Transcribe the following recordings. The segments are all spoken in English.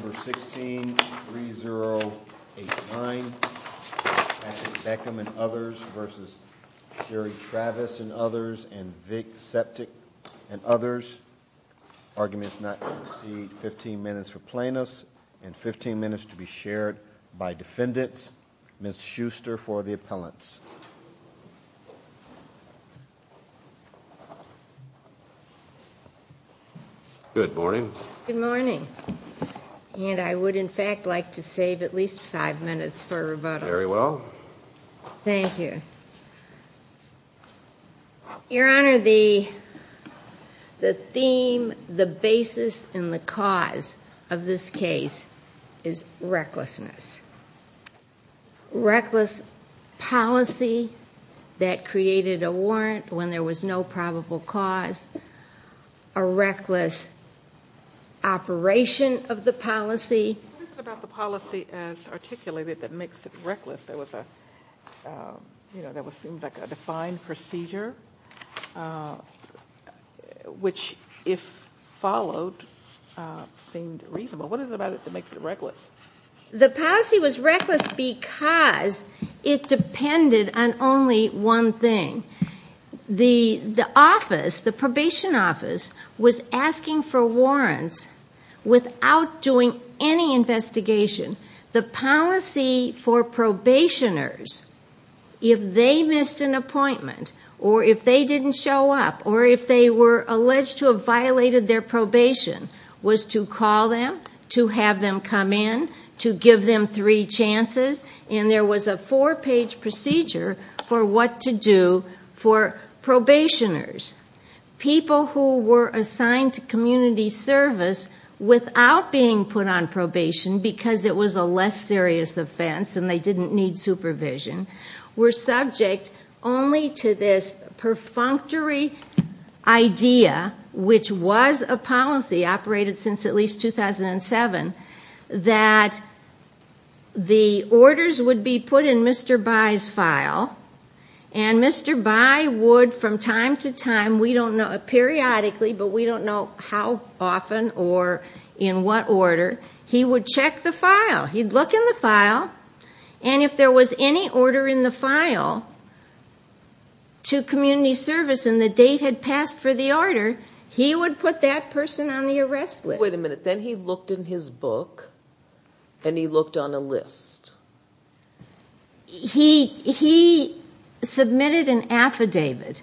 v. Sherry Travis and others, and Vic Septic and others. Arguments not to proceed. 15 minutes for plaintiffs and 15 minutes to be shared by defendants. Ms. Schuster for the appellants. Good morning, and I would, in fact, like to save at least five minutes for rebuttal. Very well. Thank you. Your Honor, the theme, the basis, and the cause of this case is recklessness. Reckless policy that created a warrant when there was no probable cause, a reckless operation of the policy. What is it about the policy as articulated that makes it reckless? There was a, you know, that seemed like a defined procedure, which, if followed, seemed reasonable. What is it about it that makes it reckless? The policy was reckless because it depended on only one thing. The office, the probation office, was asking for warrants without doing any investigation. The policy for probationers, if they missed an appointment or if they didn't show up or if they were alleged to have violated their probation, was to call them, to have them come in, to give them three chances, and there was a four-page procedure for what to do for probationers. People who were assigned to community service without being put on probation, because it was a less serious offense and they didn't need supervision, were subject only to this perfunctory idea, which was a policy operated since at least 2007, that the orders would be put in Mr. Bayh's file and Mr. Bayh would, from time to time, we don't know, periodically, but we don't know how often or in what order, he would check the file. He'd look in the file and if there was any order in the file to community service and the date had passed for the order, he would put that person on the arrest list. Wait a minute, then he looked in his book and he looked on a list? He submitted an affidavit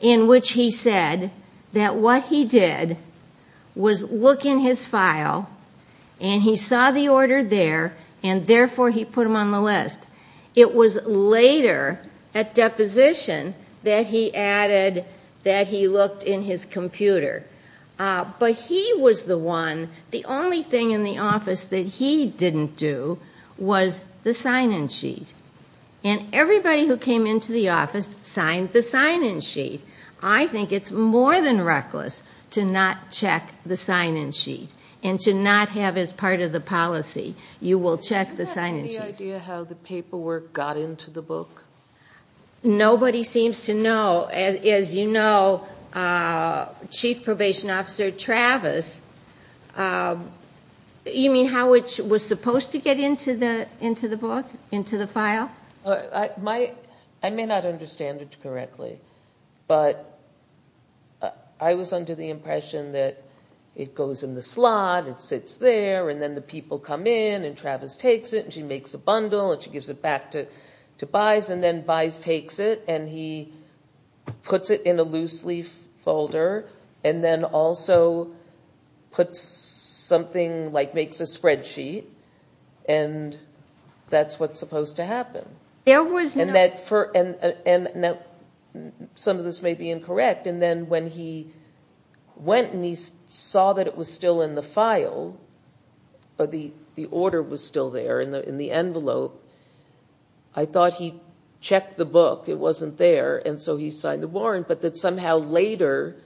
in which he said that what he did was look in his file and he saw the order there and, therefore, he put him on the list. It was later, at deposition, that he added that he looked in his computer. But he was the one, the only thing in the office that he didn't do was the sign-in sheet. Everybody who came into the office signed the sign-in sheet. I think it's more than reckless to not check the sign-in sheet and to not have as part of the policy, you will check the sign-in sheet. Do you have any idea how the paperwork got into the book? Nobody seems to know. As you know, Chief Probation Officer Travis, you mean how it was supposed to get into the book, into the file? I may not understand it correctly, but I was under the impression that it goes in the slot, it sits there, and then the people come in and Travis takes it and she makes a bundle and she gives it back to Bize and then Bize takes it and he puts it in a loose-leaf folder and then also makes a spreadsheet and that's what's supposed to happen. Some of this may be incorrect, and then when he went and he saw that it was still in the file, the order was still there in the envelope, I thought he checked the book, it wasn't there, and so he signed the warrant, but that somehow later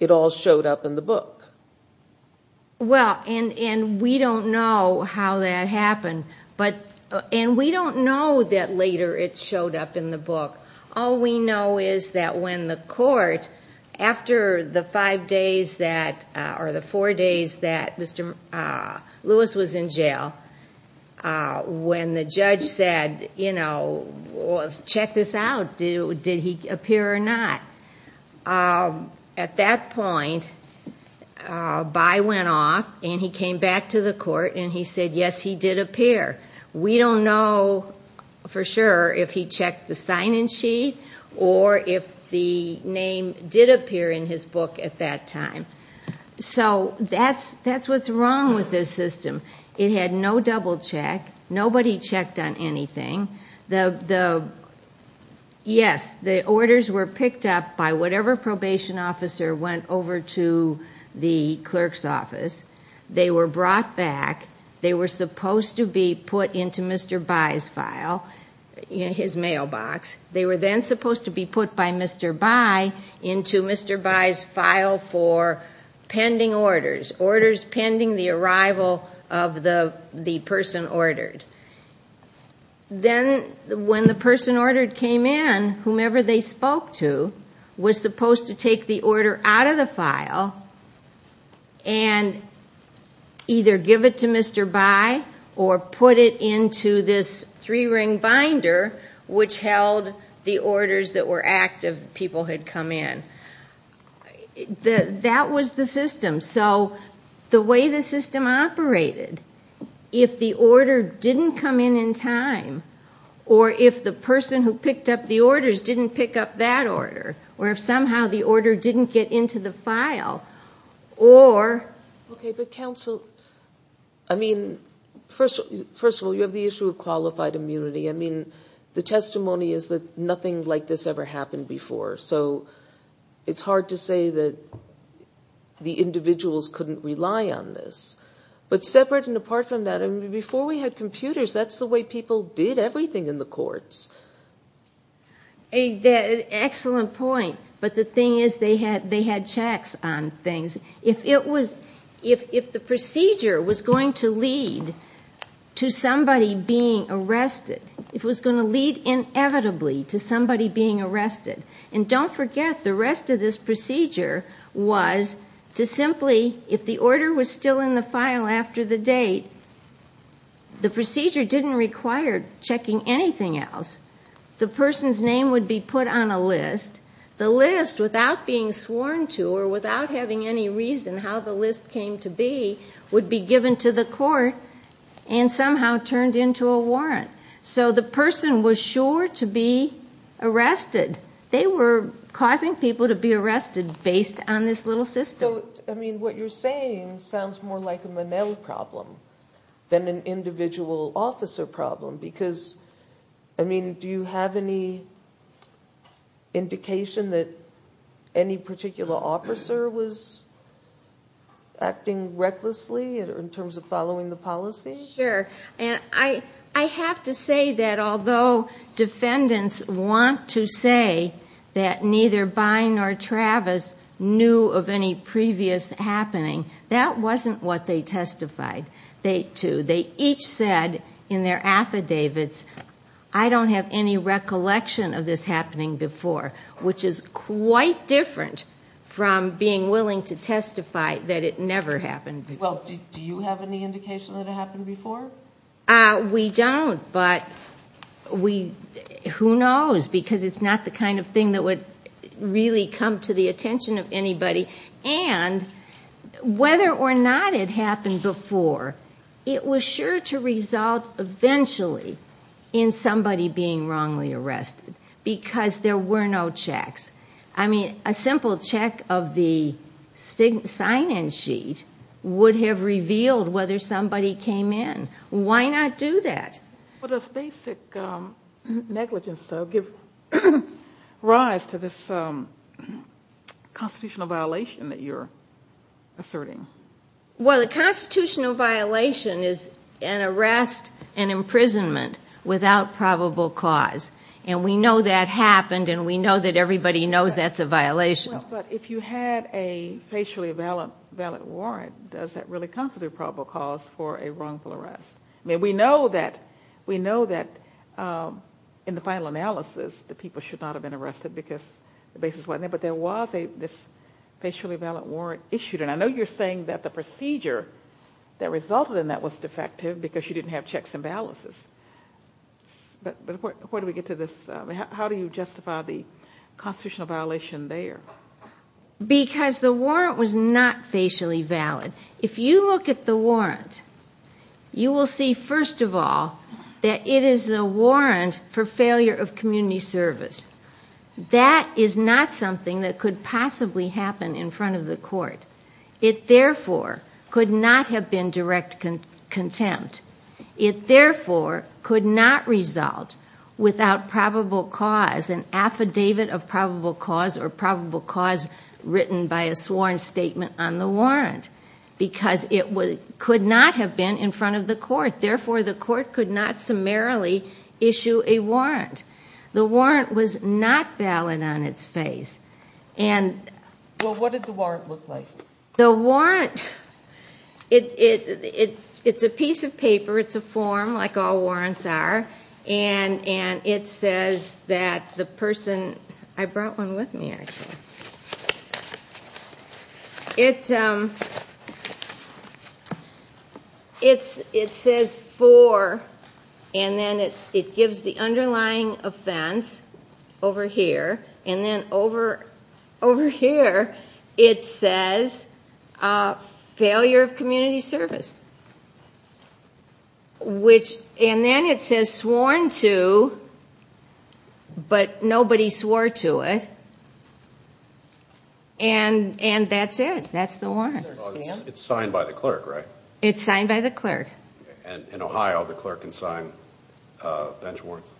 it all showed up in the book. We don't know how that happened, and we don't know that later it showed up in the book. All we know is that when the court, after the four days that Mr. Lewis was in jail, when the judge said, check this out, did he appear or not? At that point, Bize went off and he came back to the court and he said, yes, he did appear. We don't know for sure if he checked the sign-in sheet or if the name did appear in his book at that time. That's what's wrong with this system. It had no double check, nobody checked on anything, the orders were picked up by whatever probation officer went over to the clerk's office, they were brought back, they were supposed to be put into Mr. Bize's file, his mailbox, they were then supposed to be put by Mr. Bize into Mr. Bize's file for pending orders, orders pending the arrival of the person ordered. Then when the person ordered came in, whomever they spoke to was supposed to take the order out of the file and either give it to Mr. Bize or put it into this three-ring binder which held the orders that were active, people had come in. That was the system. The way the system operated, if the order didn't come in in time, or if the person who picked up the orders didn't pick up that order, or if somehow the order didn't get into the file, or... Counsel, first of all, you have the issue of qualified immunity. The testimony is that nothing like this ever happened before. It's hard to say that the individuals couldn't rely on this, but separate and apart from that, before we had computers, that's the way people did everything in the courts. Excellent point, but the thing is they had checks on things. If the procedure was going to lead to somebody being arrested, if it was going to lead inevitably to somebody being arrested, and don't forget the rest of this procedure was to simply, if the order was still in the file after the date, the procedure didn't require checking anything else. The person's name would be put on a list. The list, without being sworn to or without having any reason how the list came to be, would be given to the court and somehow turned into a warrant. The person was sure to be arrested. They were causing people to be arrested based on this little system. What you're saying sounds more like a Manel problem than an individual officer problem because, do you have any indication that any particular officer was acting recklessly in terms of following the policy? Sure. I have to say that although defendants want to say that neither Byne nor Travis knew of any previous happening, that wasn't what they testified to. They each said in their affidavits, I don't have any recollection of this happening before, which is quite different from being willing to testify that it never happened before. Well, do you have any indication that it happened before? We don't, but who knows because it's not the kind of thing that would really come to the court. It was sure to result eventually in somebody being wrongly arrested because there were no checks. I mean, a simple check of the sign-in sheet would have revealed whether somebody came in. Why not do that? Well, does basic negligence give rise to this constitutional violation that you're asserting? Well, a constitutional violation is an arrest, an imprisonment without probable cause, and we know that happened and we know that everybody knows that's a violation. If you had a facially valid warrant, does that really constitute probable cause for a wrongful arrest? I mean, we know that in the final analysis, the people should not have been arrested because the basis wasn't there, but there was this facially valid warrant issued. And I know you're saying that the procedure that resulted in that was defective because you didn't have checks and balances, but where do we get to this? How do you justify the constitutional violation there? Because the warrant was not facially valid. If you look at the warrant, you will see, first of all, that it is a warrant for failure of community service. That is not something that could possibly happen in front of the court. It therefore could not have been direct contempt. It therefore could not result without probable cause, an affidavit of probable cause or probable cause written by a sworn statement on the warrant because it could not have been in front of the court. The warrant was not valid on its face. Well, what did the warrant look like? The warrant, it's a piece of paper, it's a form like all warrants are, and it says that the person, I brought one with me actually, it says four and then it gives the underlying offense over here and then over here it says failure of community service, and then it says sworn to, but nobody swore to it, and that's it. That's the warrant. It's signed by the clerk, right? It's signed by the clerk. In Ohio, the clerk can sign bench warrants?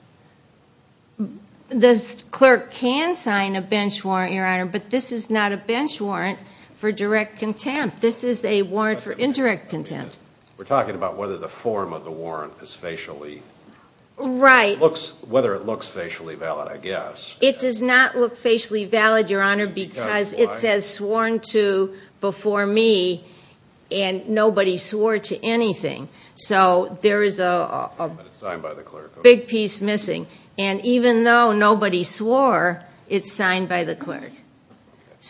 The clerk can sign a bench warrant, Your Honor, but this is not a bench warrant for direct contempt. This is a warrant for indirect contempt. We're talking about whether the form of the warrant is facially, whether it looks facially valid, I guess. It does not look facially valid, Your Honor, because it says sworn to before me and nobody swore to anything, so there is a big piece missing, and even though nobody swore, it's signed by the clerk.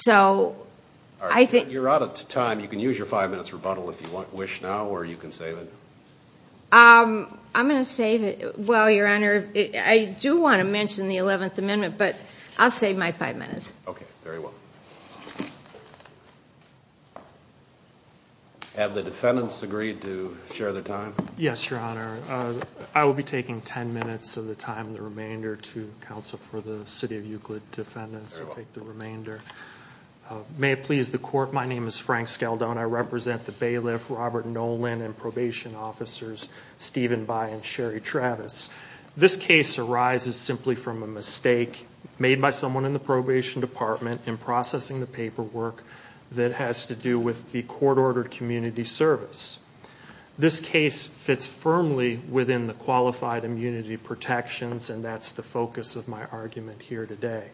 You're out of time. You can use your five minutes rebuttal if you wish now, or you can save it. I'm going to save it. Well, Your Honor, I do want to mention the Eleventh Amendment, but I'll save my five minutes. Okay. Very well. Thank you. Have the defendants agreed to share their time? Yes, Your Honor. I will be taking ten minutes of the time, the remainder, to counsel for the City of Euclid defendants. Very well. I'll take the remainder. May it please the Court, my name is Frank Skeldone. I represent the bailiff, Robert Nolan, and probation officers, Steven By and Sherry Travis. This case arises simply from a mistake made by someone in the probation department in processing the paperwork that has to do with the court-ordered community service. This case fits firmly within the qualified immunity protections, and that's the focus of my argument here today.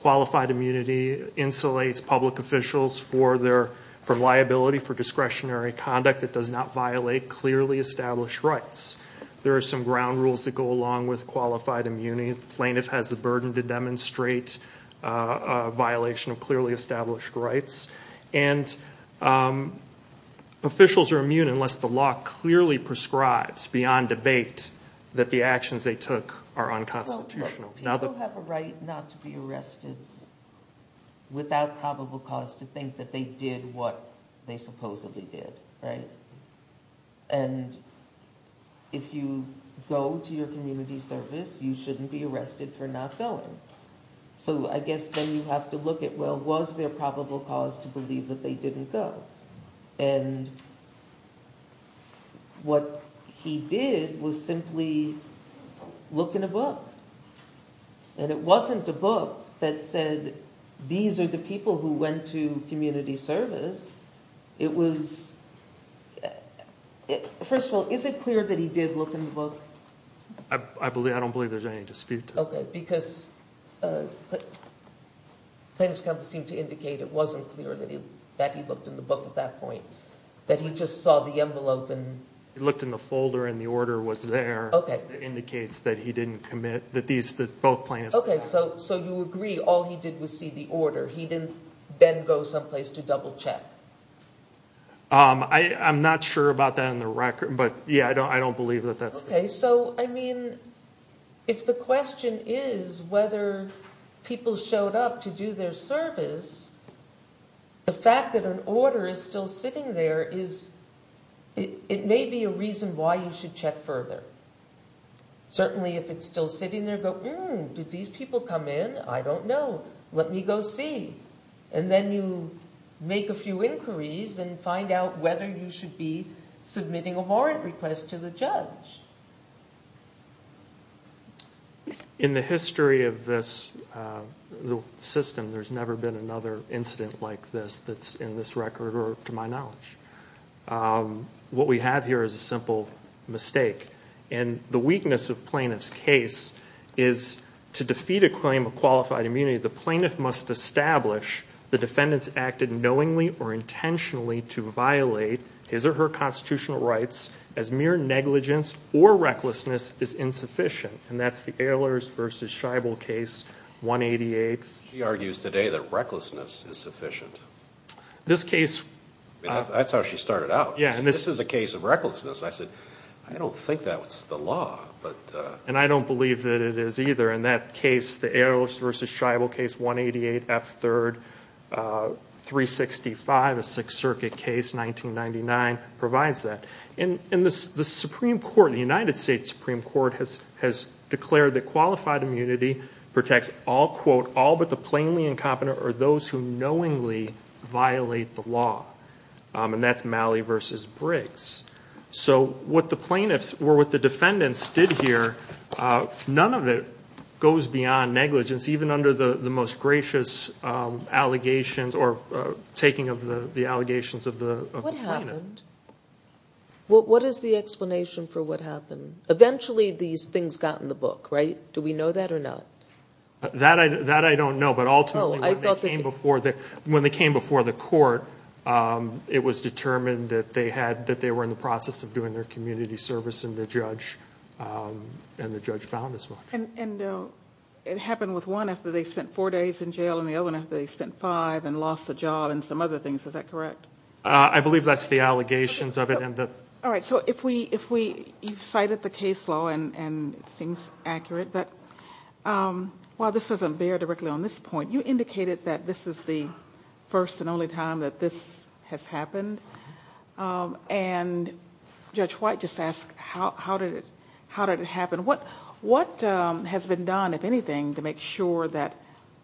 Qualified immunity insulates public officials from liability for discretionary conduct that does not violate clearly established rights. There are some ground rules that go along with qualified immunity. The plaintiff has the burden to demonstrate a violation of clearly established rights, and officials are immune unless the law clearly prescribes, beyond debate, that the actions they took are unconstitutional. People have a right not to be arrested without probable cause to think that they did what they supposedly did, right? And if you go to your community service, you shouldn't be arrested for not going. So I guess then you have to look at, well, was there probable cause to believe that they didn't go? And what he did was simply look in a book, and it wasn't a book that said, these are the people who went to community service. It was... First of all, is it clear that he did look in the book? I don't believe there's any dispute. Okay. Because plaintiff's counsel seemed to indicate it wasn't clear that he looked in the book at that point, that he just saw the envelope and... He looked in the folder, and the order was there. Okay. It indicates that he didn't commit, that these, that both plaintiffs... Okay, so you agree all he did was see the order. He didn't then go someplace to double check? I'm not sure about that on the record, but yeah, I don't believe that that's the case. Okay. So, I mean, if the question is whether people showed up to do their service, the fact that an order is still sitting there is, it may be a reason why you should check further. Certainly if it's still sitting there, go, hmm, did these people come in? I don't know. Let me go see. And then you make a few inquiries and find out whether you should be submitting a warrant request to the judge. In the history of this system, there's never been another incident like this that's in this record, or to my knowledge. What we have here is a simple mistake, and the weakness of plaintiff's case is to defeat a claim of qualified immunity, the plaintiff must establish the defendant's acted knowingly or intentionally to violate his or her constitutional rights as mere negligence or recklessness is insufficient, and that's the Ehlers versus Scheibel case, 188. She argues today that recklessness is sufficient. This case... That's how she started out. Yeah. And this is a case of recklessness. I said, I don't think that's the law, but... And I don't believe that it is either. In that case, the Ehlers versus Scheibel case, 188, F3rd, 365, a Sixth Circuit case, 1999, provides that. And the Supreme Court, the United States Supreme Court, has declared that qualified immunity protects all, quote, all but the plainly incompetent or those who knowingly violate the law. And that's Malley versus Briggs. So what the plaintiffs, or what the defendants did here, none of it goes beyond negligence, even under the most gracious allegations or taking of the allegations of the plaintiff. What happened? What is the explanation for what happened? Eventually these things got in the book, right? Do we know that or not? That I don't know, but ultimately when they came before the court, it was determined that they were in the process of doing their community service and the judge found as much. And it happened with one after they spent four days in jail and the other one after they spent five and lost the job and some other things, is that correct? I believe that's the allegations of it and the... All right. So if we... You've cited the case law and it seems accurate, but while this doesn't bear directly on this point, you indicated that this is the first and only time that this has happened. And Judge White just asked, how did it happen? What has been done, if anything, to make sure that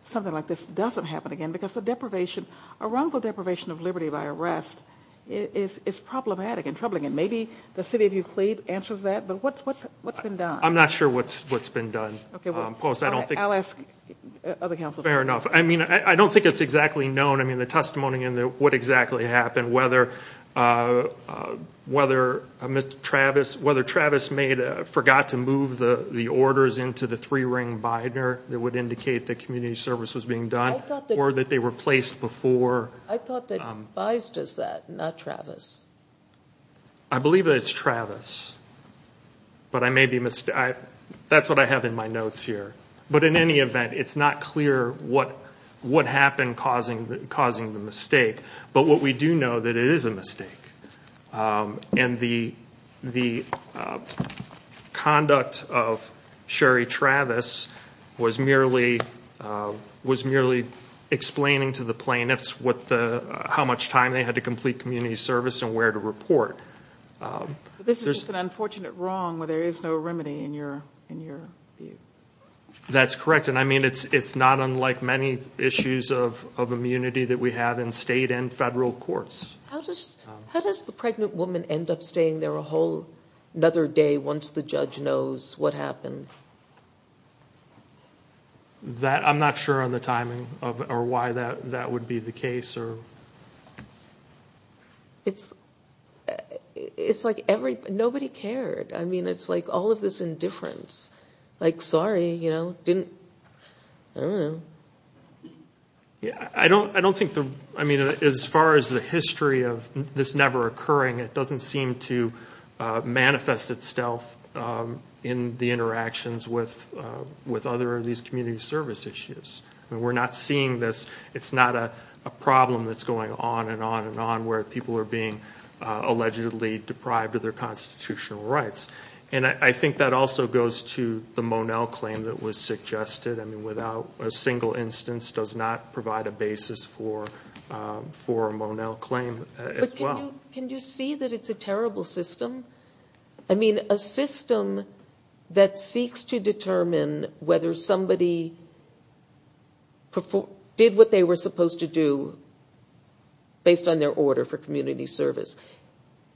something like this doesn't happen again? Because a deprivation, a wrongful deprivation of liberty by arrest is problematic and troubling and maybe the city of Euclid answers that, but what's been done? I'm not sure what's been done. Okay. I'll ask other counselors. Fair enough. I mean, I don't think it's exactly known. I mean, the testimony and what exactly happened, whether Travis forgot to move the orders into the three ring binder that would indicate that community service was being done or that they were placed before... I thought that Bize does that, not Travis. I believe that it's Travis. But I may be... That's what I have in my notes here. But in any event, it's not clear what happened causing the mistake, but what we do know that it is a mistake. And the conduct of Sherry Travis was merely explaining to the plaintiffs how much time they had to complete community service and where to report. But this is just an unfortunate wrong where there is no remedy in your view. That's correct. And I mean, it's not unlike many issues of immunity that we have in state and federal courts. How does the pregnant woman end up staying there a whole other day once the judge knows what happened? I'm not sure on the timing or why that would be the case. It's like nobody cared. I mean, it's like all of this indifference, like, sorry, you know, didn't, I don't know. I don't think, I mean, as far as the history of this never occurring, it doesn't seem to manifest itself in the interactions with other of these community service issues. We're not seeing this. It's not a problem that's going on and on and on where people are being allegedly deprived of their constitutional rights. And I think that also goes to the Monell claim that was suggested. I mean, without a single instance does not provide a basis for a Monell claim as well. Can you see that it's a terrible system? I mean, a system that seeks to determine whether somebody did what they were supposed to do based on their order for community service.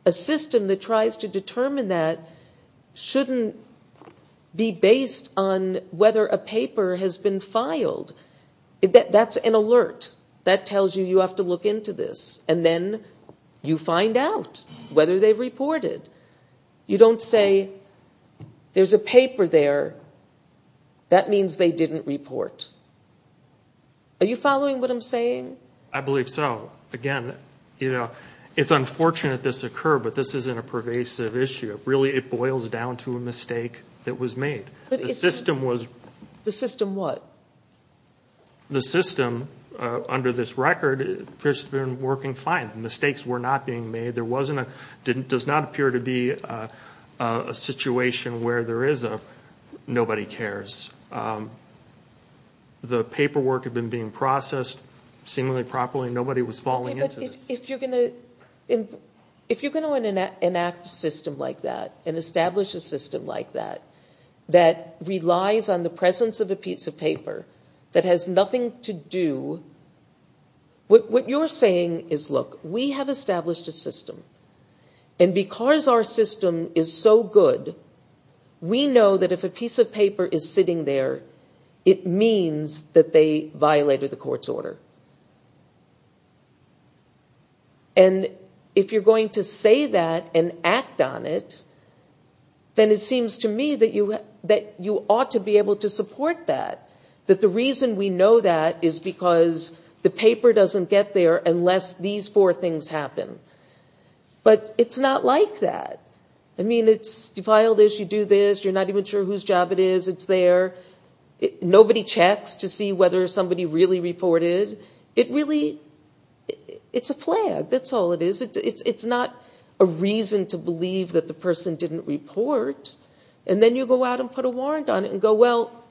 A system that tries to determine that shouldn't be based on whether a paper has been filed. That's an alert. That tells you, you have to look into this and then you find out whether they've reported. You don't say there's a paper there. That means they didn't report. Are you following what I'm saying? I believe so. Again, you know, it's unfortunate this occurred, but this isn't a pervasive issue. Really it boils down to a mistake that was made. The system was. The system what? The system under this record appears to have been working fine. Mistakes were not being made. There wasn't a, does not appear to be a situation where there is a nobody cares. The paperwork had been being processed seemingly properly. Nobody was falling into this. Okay, but if you're going to enact a system like that and establish a system like that that relies on the presence of a piece of paper that has nothing to do, what you're saying is, look, we have established a system and because our system is so good, we know that if a piece of paper is sitting there, it means that they violated the court's order. And if you're going to say that and act on it, then it seems to me that you, that you ought to be able to support that, that the reason we know that is because the paper doesn't get there unless these four things happen. But it's not like that. I mean, it's, you file this, you do this, you're not even sure whose job it is, it's really, it's a flag. That's all it is. It's not a reason to believe that the person didn't report. And then you go out and put a warrant on it and go, well,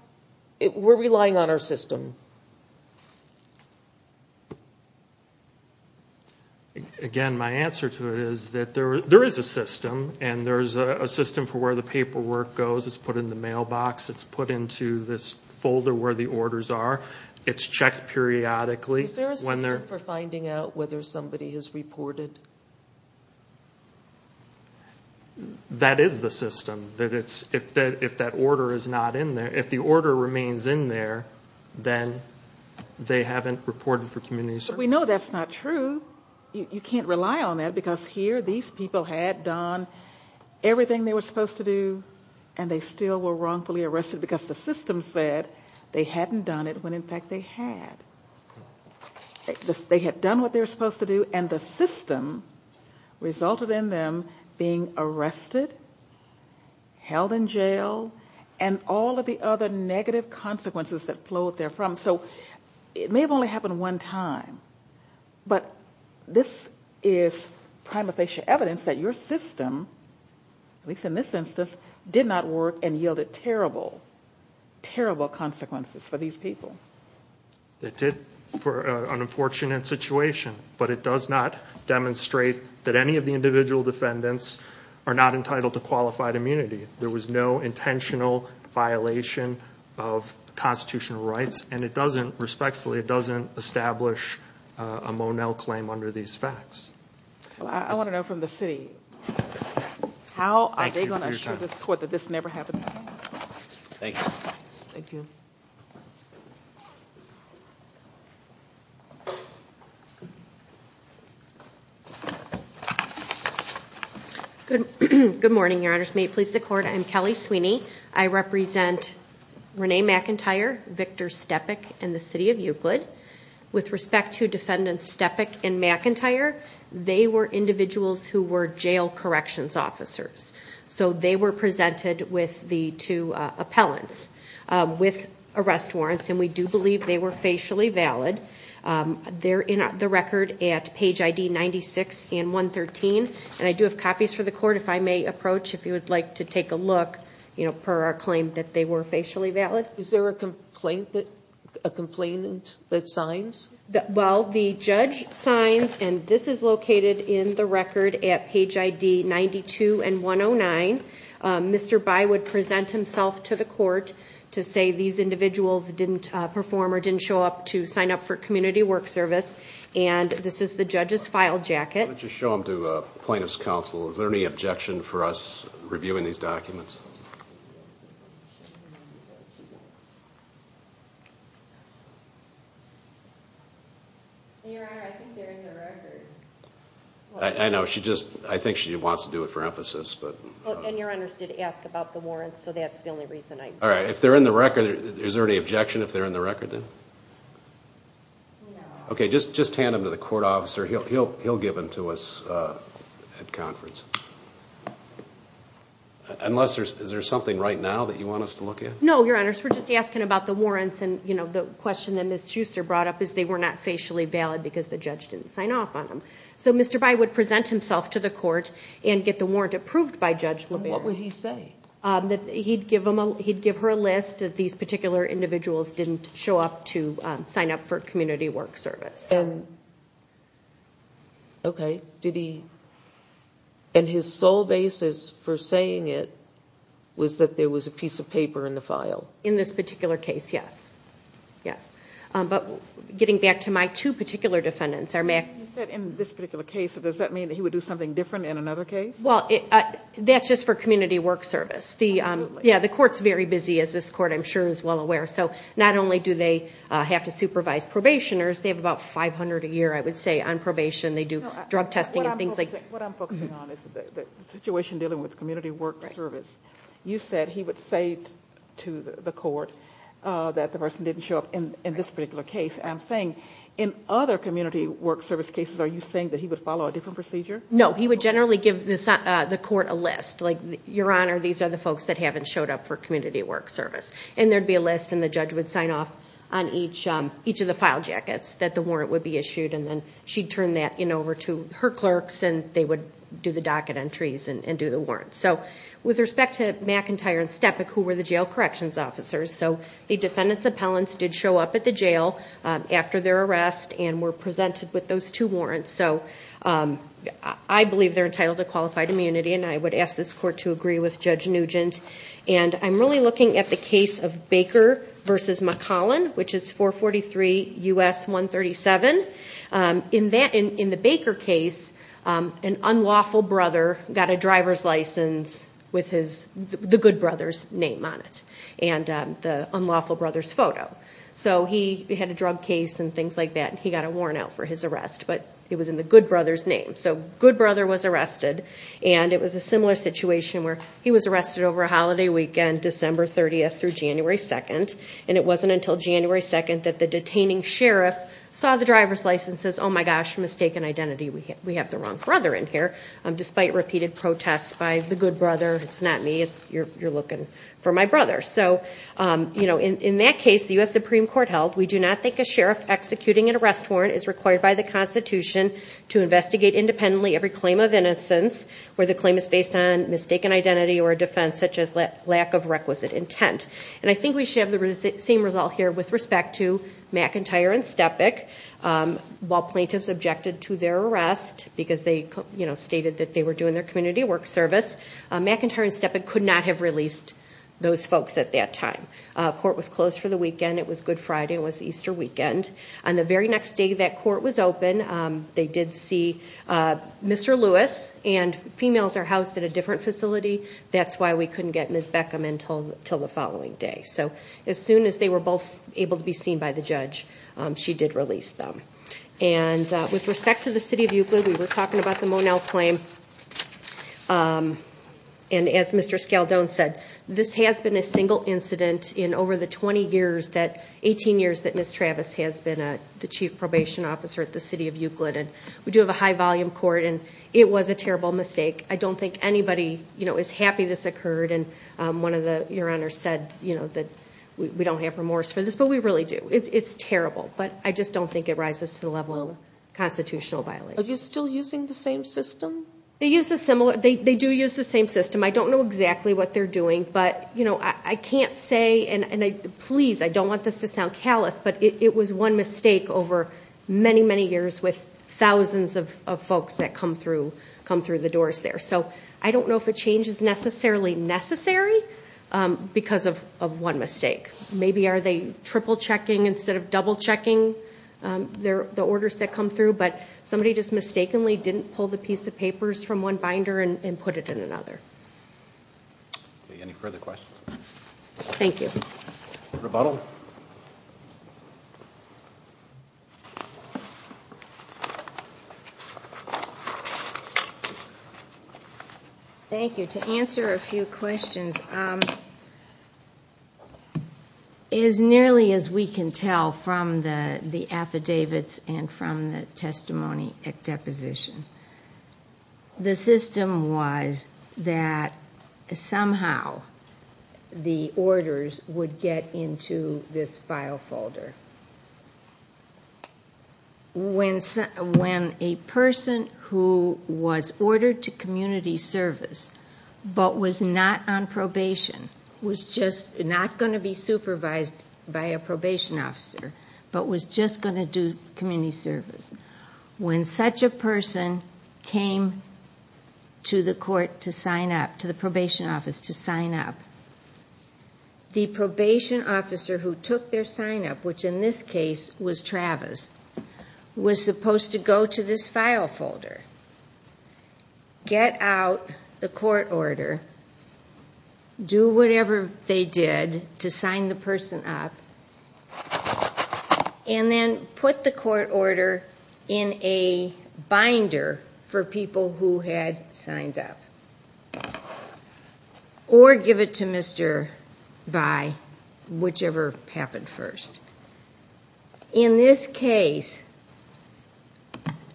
we're relying on our system. Again, my answer to it is that there is a system and there's a system for where the paperwork goes. It's put in the mailbox. It's put into this folder where the orders are. It's checked periodically. Is there a system for finding out whether somebody has reported? That is the system. That it's, if that order is not in there, if the order remains in there, then they haven't reported for community service. We know that's not true. You can't rely on that because here these people had done everything they were supposed to do and they still were wrongfully arrested because the system said they hadn't done it when in fact they had. They had done what they were supposed to do and the system resulted in them being arrested, held in jail, and all of the other negative consequences that flowed there from. So it may have only happened one time, but this is prima facie evidence that your system, at least in this instance, did not work and yielded terrible, terrible consequences for these people. It did for an unfortunate situation, but it does not demonstrate that any of the individual defendants are not entitled to qualified immunity. There was no intentional violation of constitutional rights and it doesn't, respectfully, it doesn't establish a Monell claim under these facts. I want to know from the city, how are they going to assure this court that this never happened? Thank you. Thank you. Thank you. Thank you. Thank you. Thank you. Thank you. Good morning, Your Honors. May it please the court, I am Kelly Sweeney. I represent Renee McIntyre, Victor Steppak, and the city of Euclid. With respect to Defendant Steppak and McIntyre, they were individuals who were jail corrections officers. They were presented with the two appellants with arrest warrants, and we do believe they were facially valid. They're in the record at page ID 96 and 113, and I do have copies for the court, if I may approach, if you would like to take a look, per our claim that they were facially valid. Is there a complaint that, a complainant that signs? Well, the judge signs, and this is located in the record at page ID 92 and 109. Mr. By would present himself to the court to say these individuals didn't perform or didn't show up to sign up for community work service, and this is the judge's file jacket. Why don't you show them to plaintiff's counsel. Is there any objection for us reviewing these documents? Your Honor, I think they're in the record. I know, she just, I think she wants to do it for emphasis, but. And your Honor, she did ask about the warrants, so that's the only reason I'm. Alright, if they're in the record, is there any objection if they're in the record then? No. Okay, just hand them to the court officer, he'll give them to us at conference. Unless there's, is there something right now that you want us to look at? No, Your Honor, we're just asking about the warrants, and you know, the question that they're not facially valid because the judge didn't sign off on them. So Mr. By would present himself to the court and get the warrant approved by Judge LeBaron. And what would he say? He'd give her a list that these particular individuals didn't show up to sign up for community work service. And, okay, did he, and his sole basis for saying it was that there was a piece of paper in the file? In this particular case, yes. Yes. But getting back to my two particular defendants. You said in this particular case, does that mean that he would do something different in another case? Well, that's just for community work service. Yeah, the court's very busy, as this court I'm sure is well aware. So not only do they have to supervise probationers, they have about 500 a year, I would say, on probation. They do drug testing and things like that. What I'm focusing on is the situation dealing with community work service. You said he would say to the court that the person didn't show up in this particular case. I'm saying in other community work service cases, are you saying that he would follow a different procedure? No, he would generally give the court a list. Like, Your Honor, these are the folks that haven't showed up for community work service. And there'd be a list, and the judge would sign off on each of the file jackets that the warrant would be issued. And then she'd turn that in over to her clerks, and they would do the docket entries and do the warrants. So with respect to McIntyre and Stepick, who were the jail corrections officers, the defendant's appellants did show up at the jail after their arrest and were presented with those two warrants. So I believe they're entitled to qualified immunity, and I would ask this court to agree with Judge Nugent. And I'm really looking at the case of Baker v. McCollin, which is 443 U.S. 137. In the Baker case, an unlawful brother got a driver's license with the good brother's name on it and the unlawful brother's photo. So he had a drug case and things like that, and he got a warrant out for his arrest, but it was in the good brother's name. So good brother was arrested, and it was a similar situation where he was arrested over a holiday weekend, December 30th through January 2nd. And it wasn't until January 2nd that the detaining sheriff saw the driver's license and says, oh my gosh, mistaken identity. We have the wrong brother in here. Despite repeated protests by the good brother, it's not me. You're looking for my brother. So in that case, the U.S. Supreme Court held, we do not think a sheriff executing an arrest warrant is required by the Constitution to investigate independently every claim of innocence where the claim is based on mistaken identity or a defense such as lack of requisite intent. And I think we should have the same result here with respect to McIntyre and Stepick. While plaintiffs objected to their arrest because they stated that they were doing their community work service, McIntyre and Stepick could not have released those folks at that time. Court was closed for the weekend. It was Good Friday. It was Easter weekend. On the very next day that court was open, they did see Mr. Lewis, and females are housed at a different facility. That's why we couldn't get Ms. Beckham in until the following day. So as soon as they were both able to be seen by the judge, she did release them. And with respect to the city of Euclid, we were talking about the Monell claim. And as Mr. Scaldone said, this has been a single incident in over the 20 years that 18 years that Ms. Travis has been the chief probation officer at the city of Euclid. And we do have a high volume court, and it was a terrible mistake. I don't think anybody is happy this occurred. And your Honor said that we don't have remorse for this. But we really do. It's terrible. But I just don't think it rises to the level of constitutional violation. Are you still using the same system? They do use the same system. I don't know exactly what they're doing. But I can't say, and please, I don't want this to sound callous, but it was one mistake over many, many years with thousands of folks that come through the doors there. So I don't know if a change is necessarily necessary because of one mistake. Maybe are they triple-checking instead of double-checking the orders that come through? But somebody just mistakenly didn't pull the piece of papers from one binder and put it in another. Any further questions? Thank you. Rebuttal. Thank you. To answer a few questions, as nearly as we can tell from the affidavits and from the testimony at deposition, the system was that somehow the orders would get into this file folder. When a person who was ordered to community service but was not on probation, was just not going to be supervised by a probation officer, but was just going to do community service, when such a person came to the court to sign up, to the probation office to sign up, the probation officer who took their sign-up, which in this case was Travis, was supposed to go to this file folder, get out the court order, do whatever they did to sign the person up, and then put the court order in a binder for people who had signed up, or give it to Mr. Vi, whichever happened first. In this case,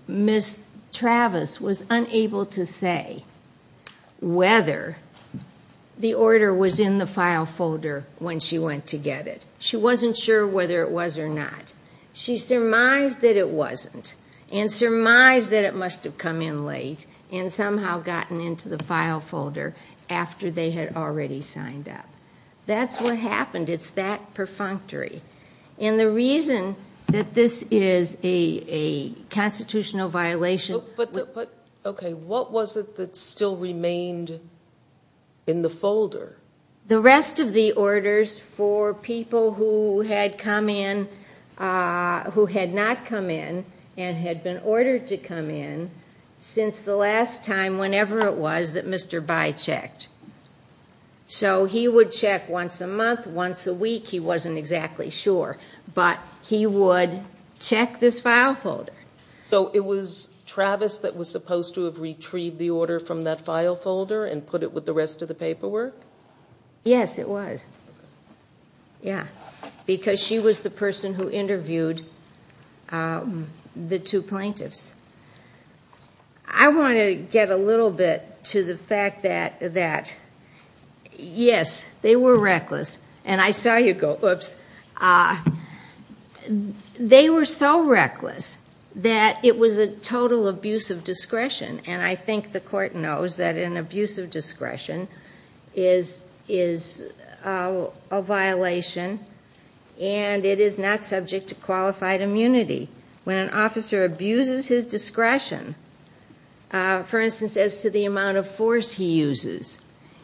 Ms. Travis was unable to say whether the order was in the file folder when she went to get it. She wasn't sure whether it was or not. She surmised that it wasn't, and surmised that it must have come in late, and somehow gotten into the file folder after they had already signed up. That's what happened. It's that perfunctory. And the reason that this is a constitutional violation... But, okay, what was it that still remained in the folder? The rest of the orders for people who had come in, who had not come in, and had been ordered to come in, since the last time, whenever it was, that Mr. Vi checked. So he would check once a month, once a week, he wasn't exactly sure. But he would check this file folder. So it was Travis that was supposed to have retrieved the order from that file folder and put it with the rest of the paperwork? Yes, it was. Because she was the person who interviewed the two plaintiffs. I want to get a little bit to the fact that, yes, they were reckless. And I saw you go, whoops. They were so reckless that it was a total abuse of discretion. And I think the court knows that an abuse of discretion is a violation, and it is not subject to qualified immunity. When an officer abuses his discretion, for instance, as to the amount of force he uses,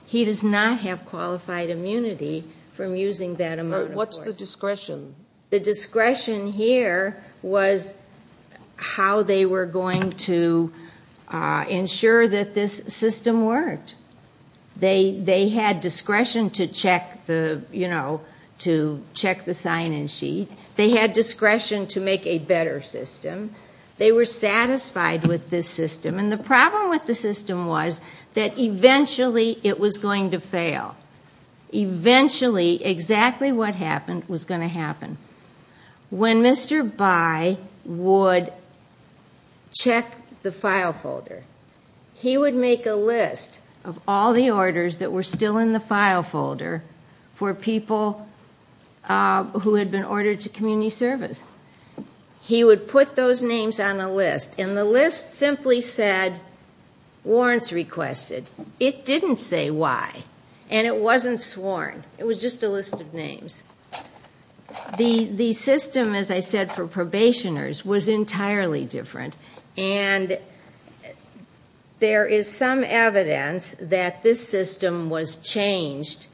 he does not have qualified immunity from using that amount of force. What's the discretion? The discretion here was how they were going to ensure that this system worked. They had discretion to check the sign-in sheet. They had discretion to make a better system. They were satisfied with this system. And the problem with the system was that eventually it was going to fail. Eventually exactly what happened was going to happen. When Mr. Bayh would check the file folder, he would make a list of all the orders that were still in the file folder for people who had been ordered to community service. He would put those names on a list, and the list simply said, warrants requested. It didn't say why, and it wasn't sworn. It was just a list of names. The system, as I said, for probationers was entirely different, and there is some evidence that this system was changed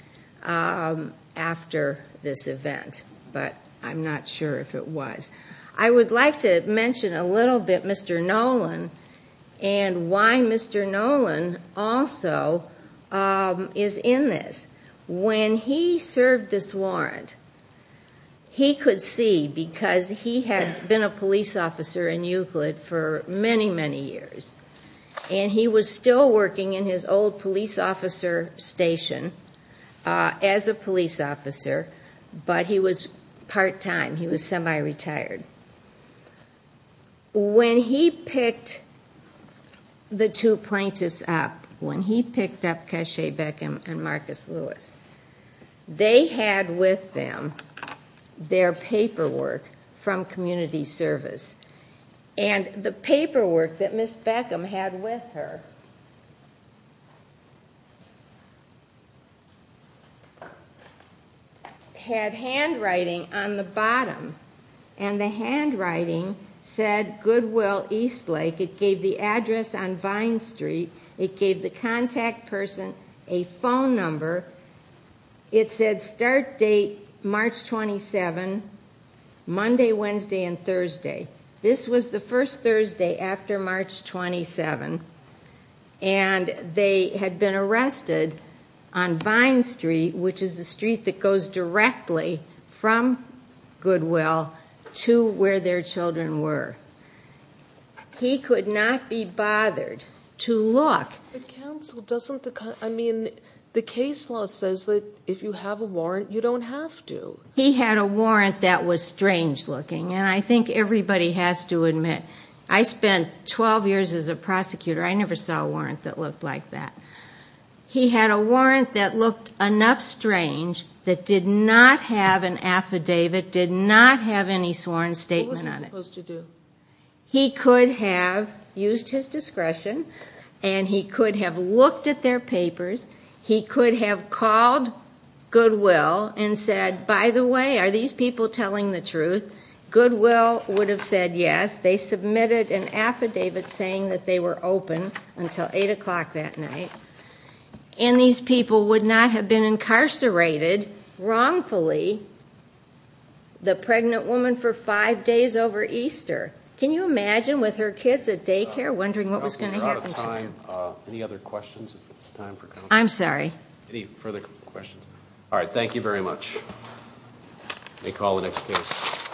after this event, but I'm not sure if it was. I would like to mention a little bit Mr. Nolan and why Mr. Nolan also is in this. When he served this warrant, he could see, because he had been a police officer in Euclid for many, many years, and he was still working in his old police officer station as a police officer, but he was part-time. He was semi-retired. When he picked the two plaintiffs up, when he picked up Cashay Beckham and Marcus Lewis, they had with them their paperwork from community service, and the paperwork that Ms. Beckham had with her had handwriting on the bottom, and the handwriting said Goodwill Eastlake. It gave the address on Vine Street. It gave the contact person a phone number. It said start date March 27, Monday, Wednesday, and Thursday. This was the first Thursday after March 27, and they had been arrested on Vine Street, which is the street that goes directly from Goodwill to where their children were. He could not be bothered to look. The case law says that if you have a warrant, you don't have to. He had a warrant that was strange-looking, and I think everybody has to admit I spent 12 years as a prosecutor. I never saw a warrant that looked like that. He had a warrant that looked enough strange that did not have an affidavit, did not have any sworn statement on it. What was he supposed to do? He could have used his discretion, and he could have looked at their papers. He could have called Goodwill and said, By the way, are these people telling the truth? Goodwill would have said yes. They submitted an affidavit saying that they were open until 8 o'clock that night, and these people would not have been incarcerated wrongfully, the pregnant woman for five days over Easter. Can you imagine with her kids at daycare wondering what was going to happen? We're out of time. Any other questions? I'm sorry. Any further questions? All right. Thank you very much. May call the next case.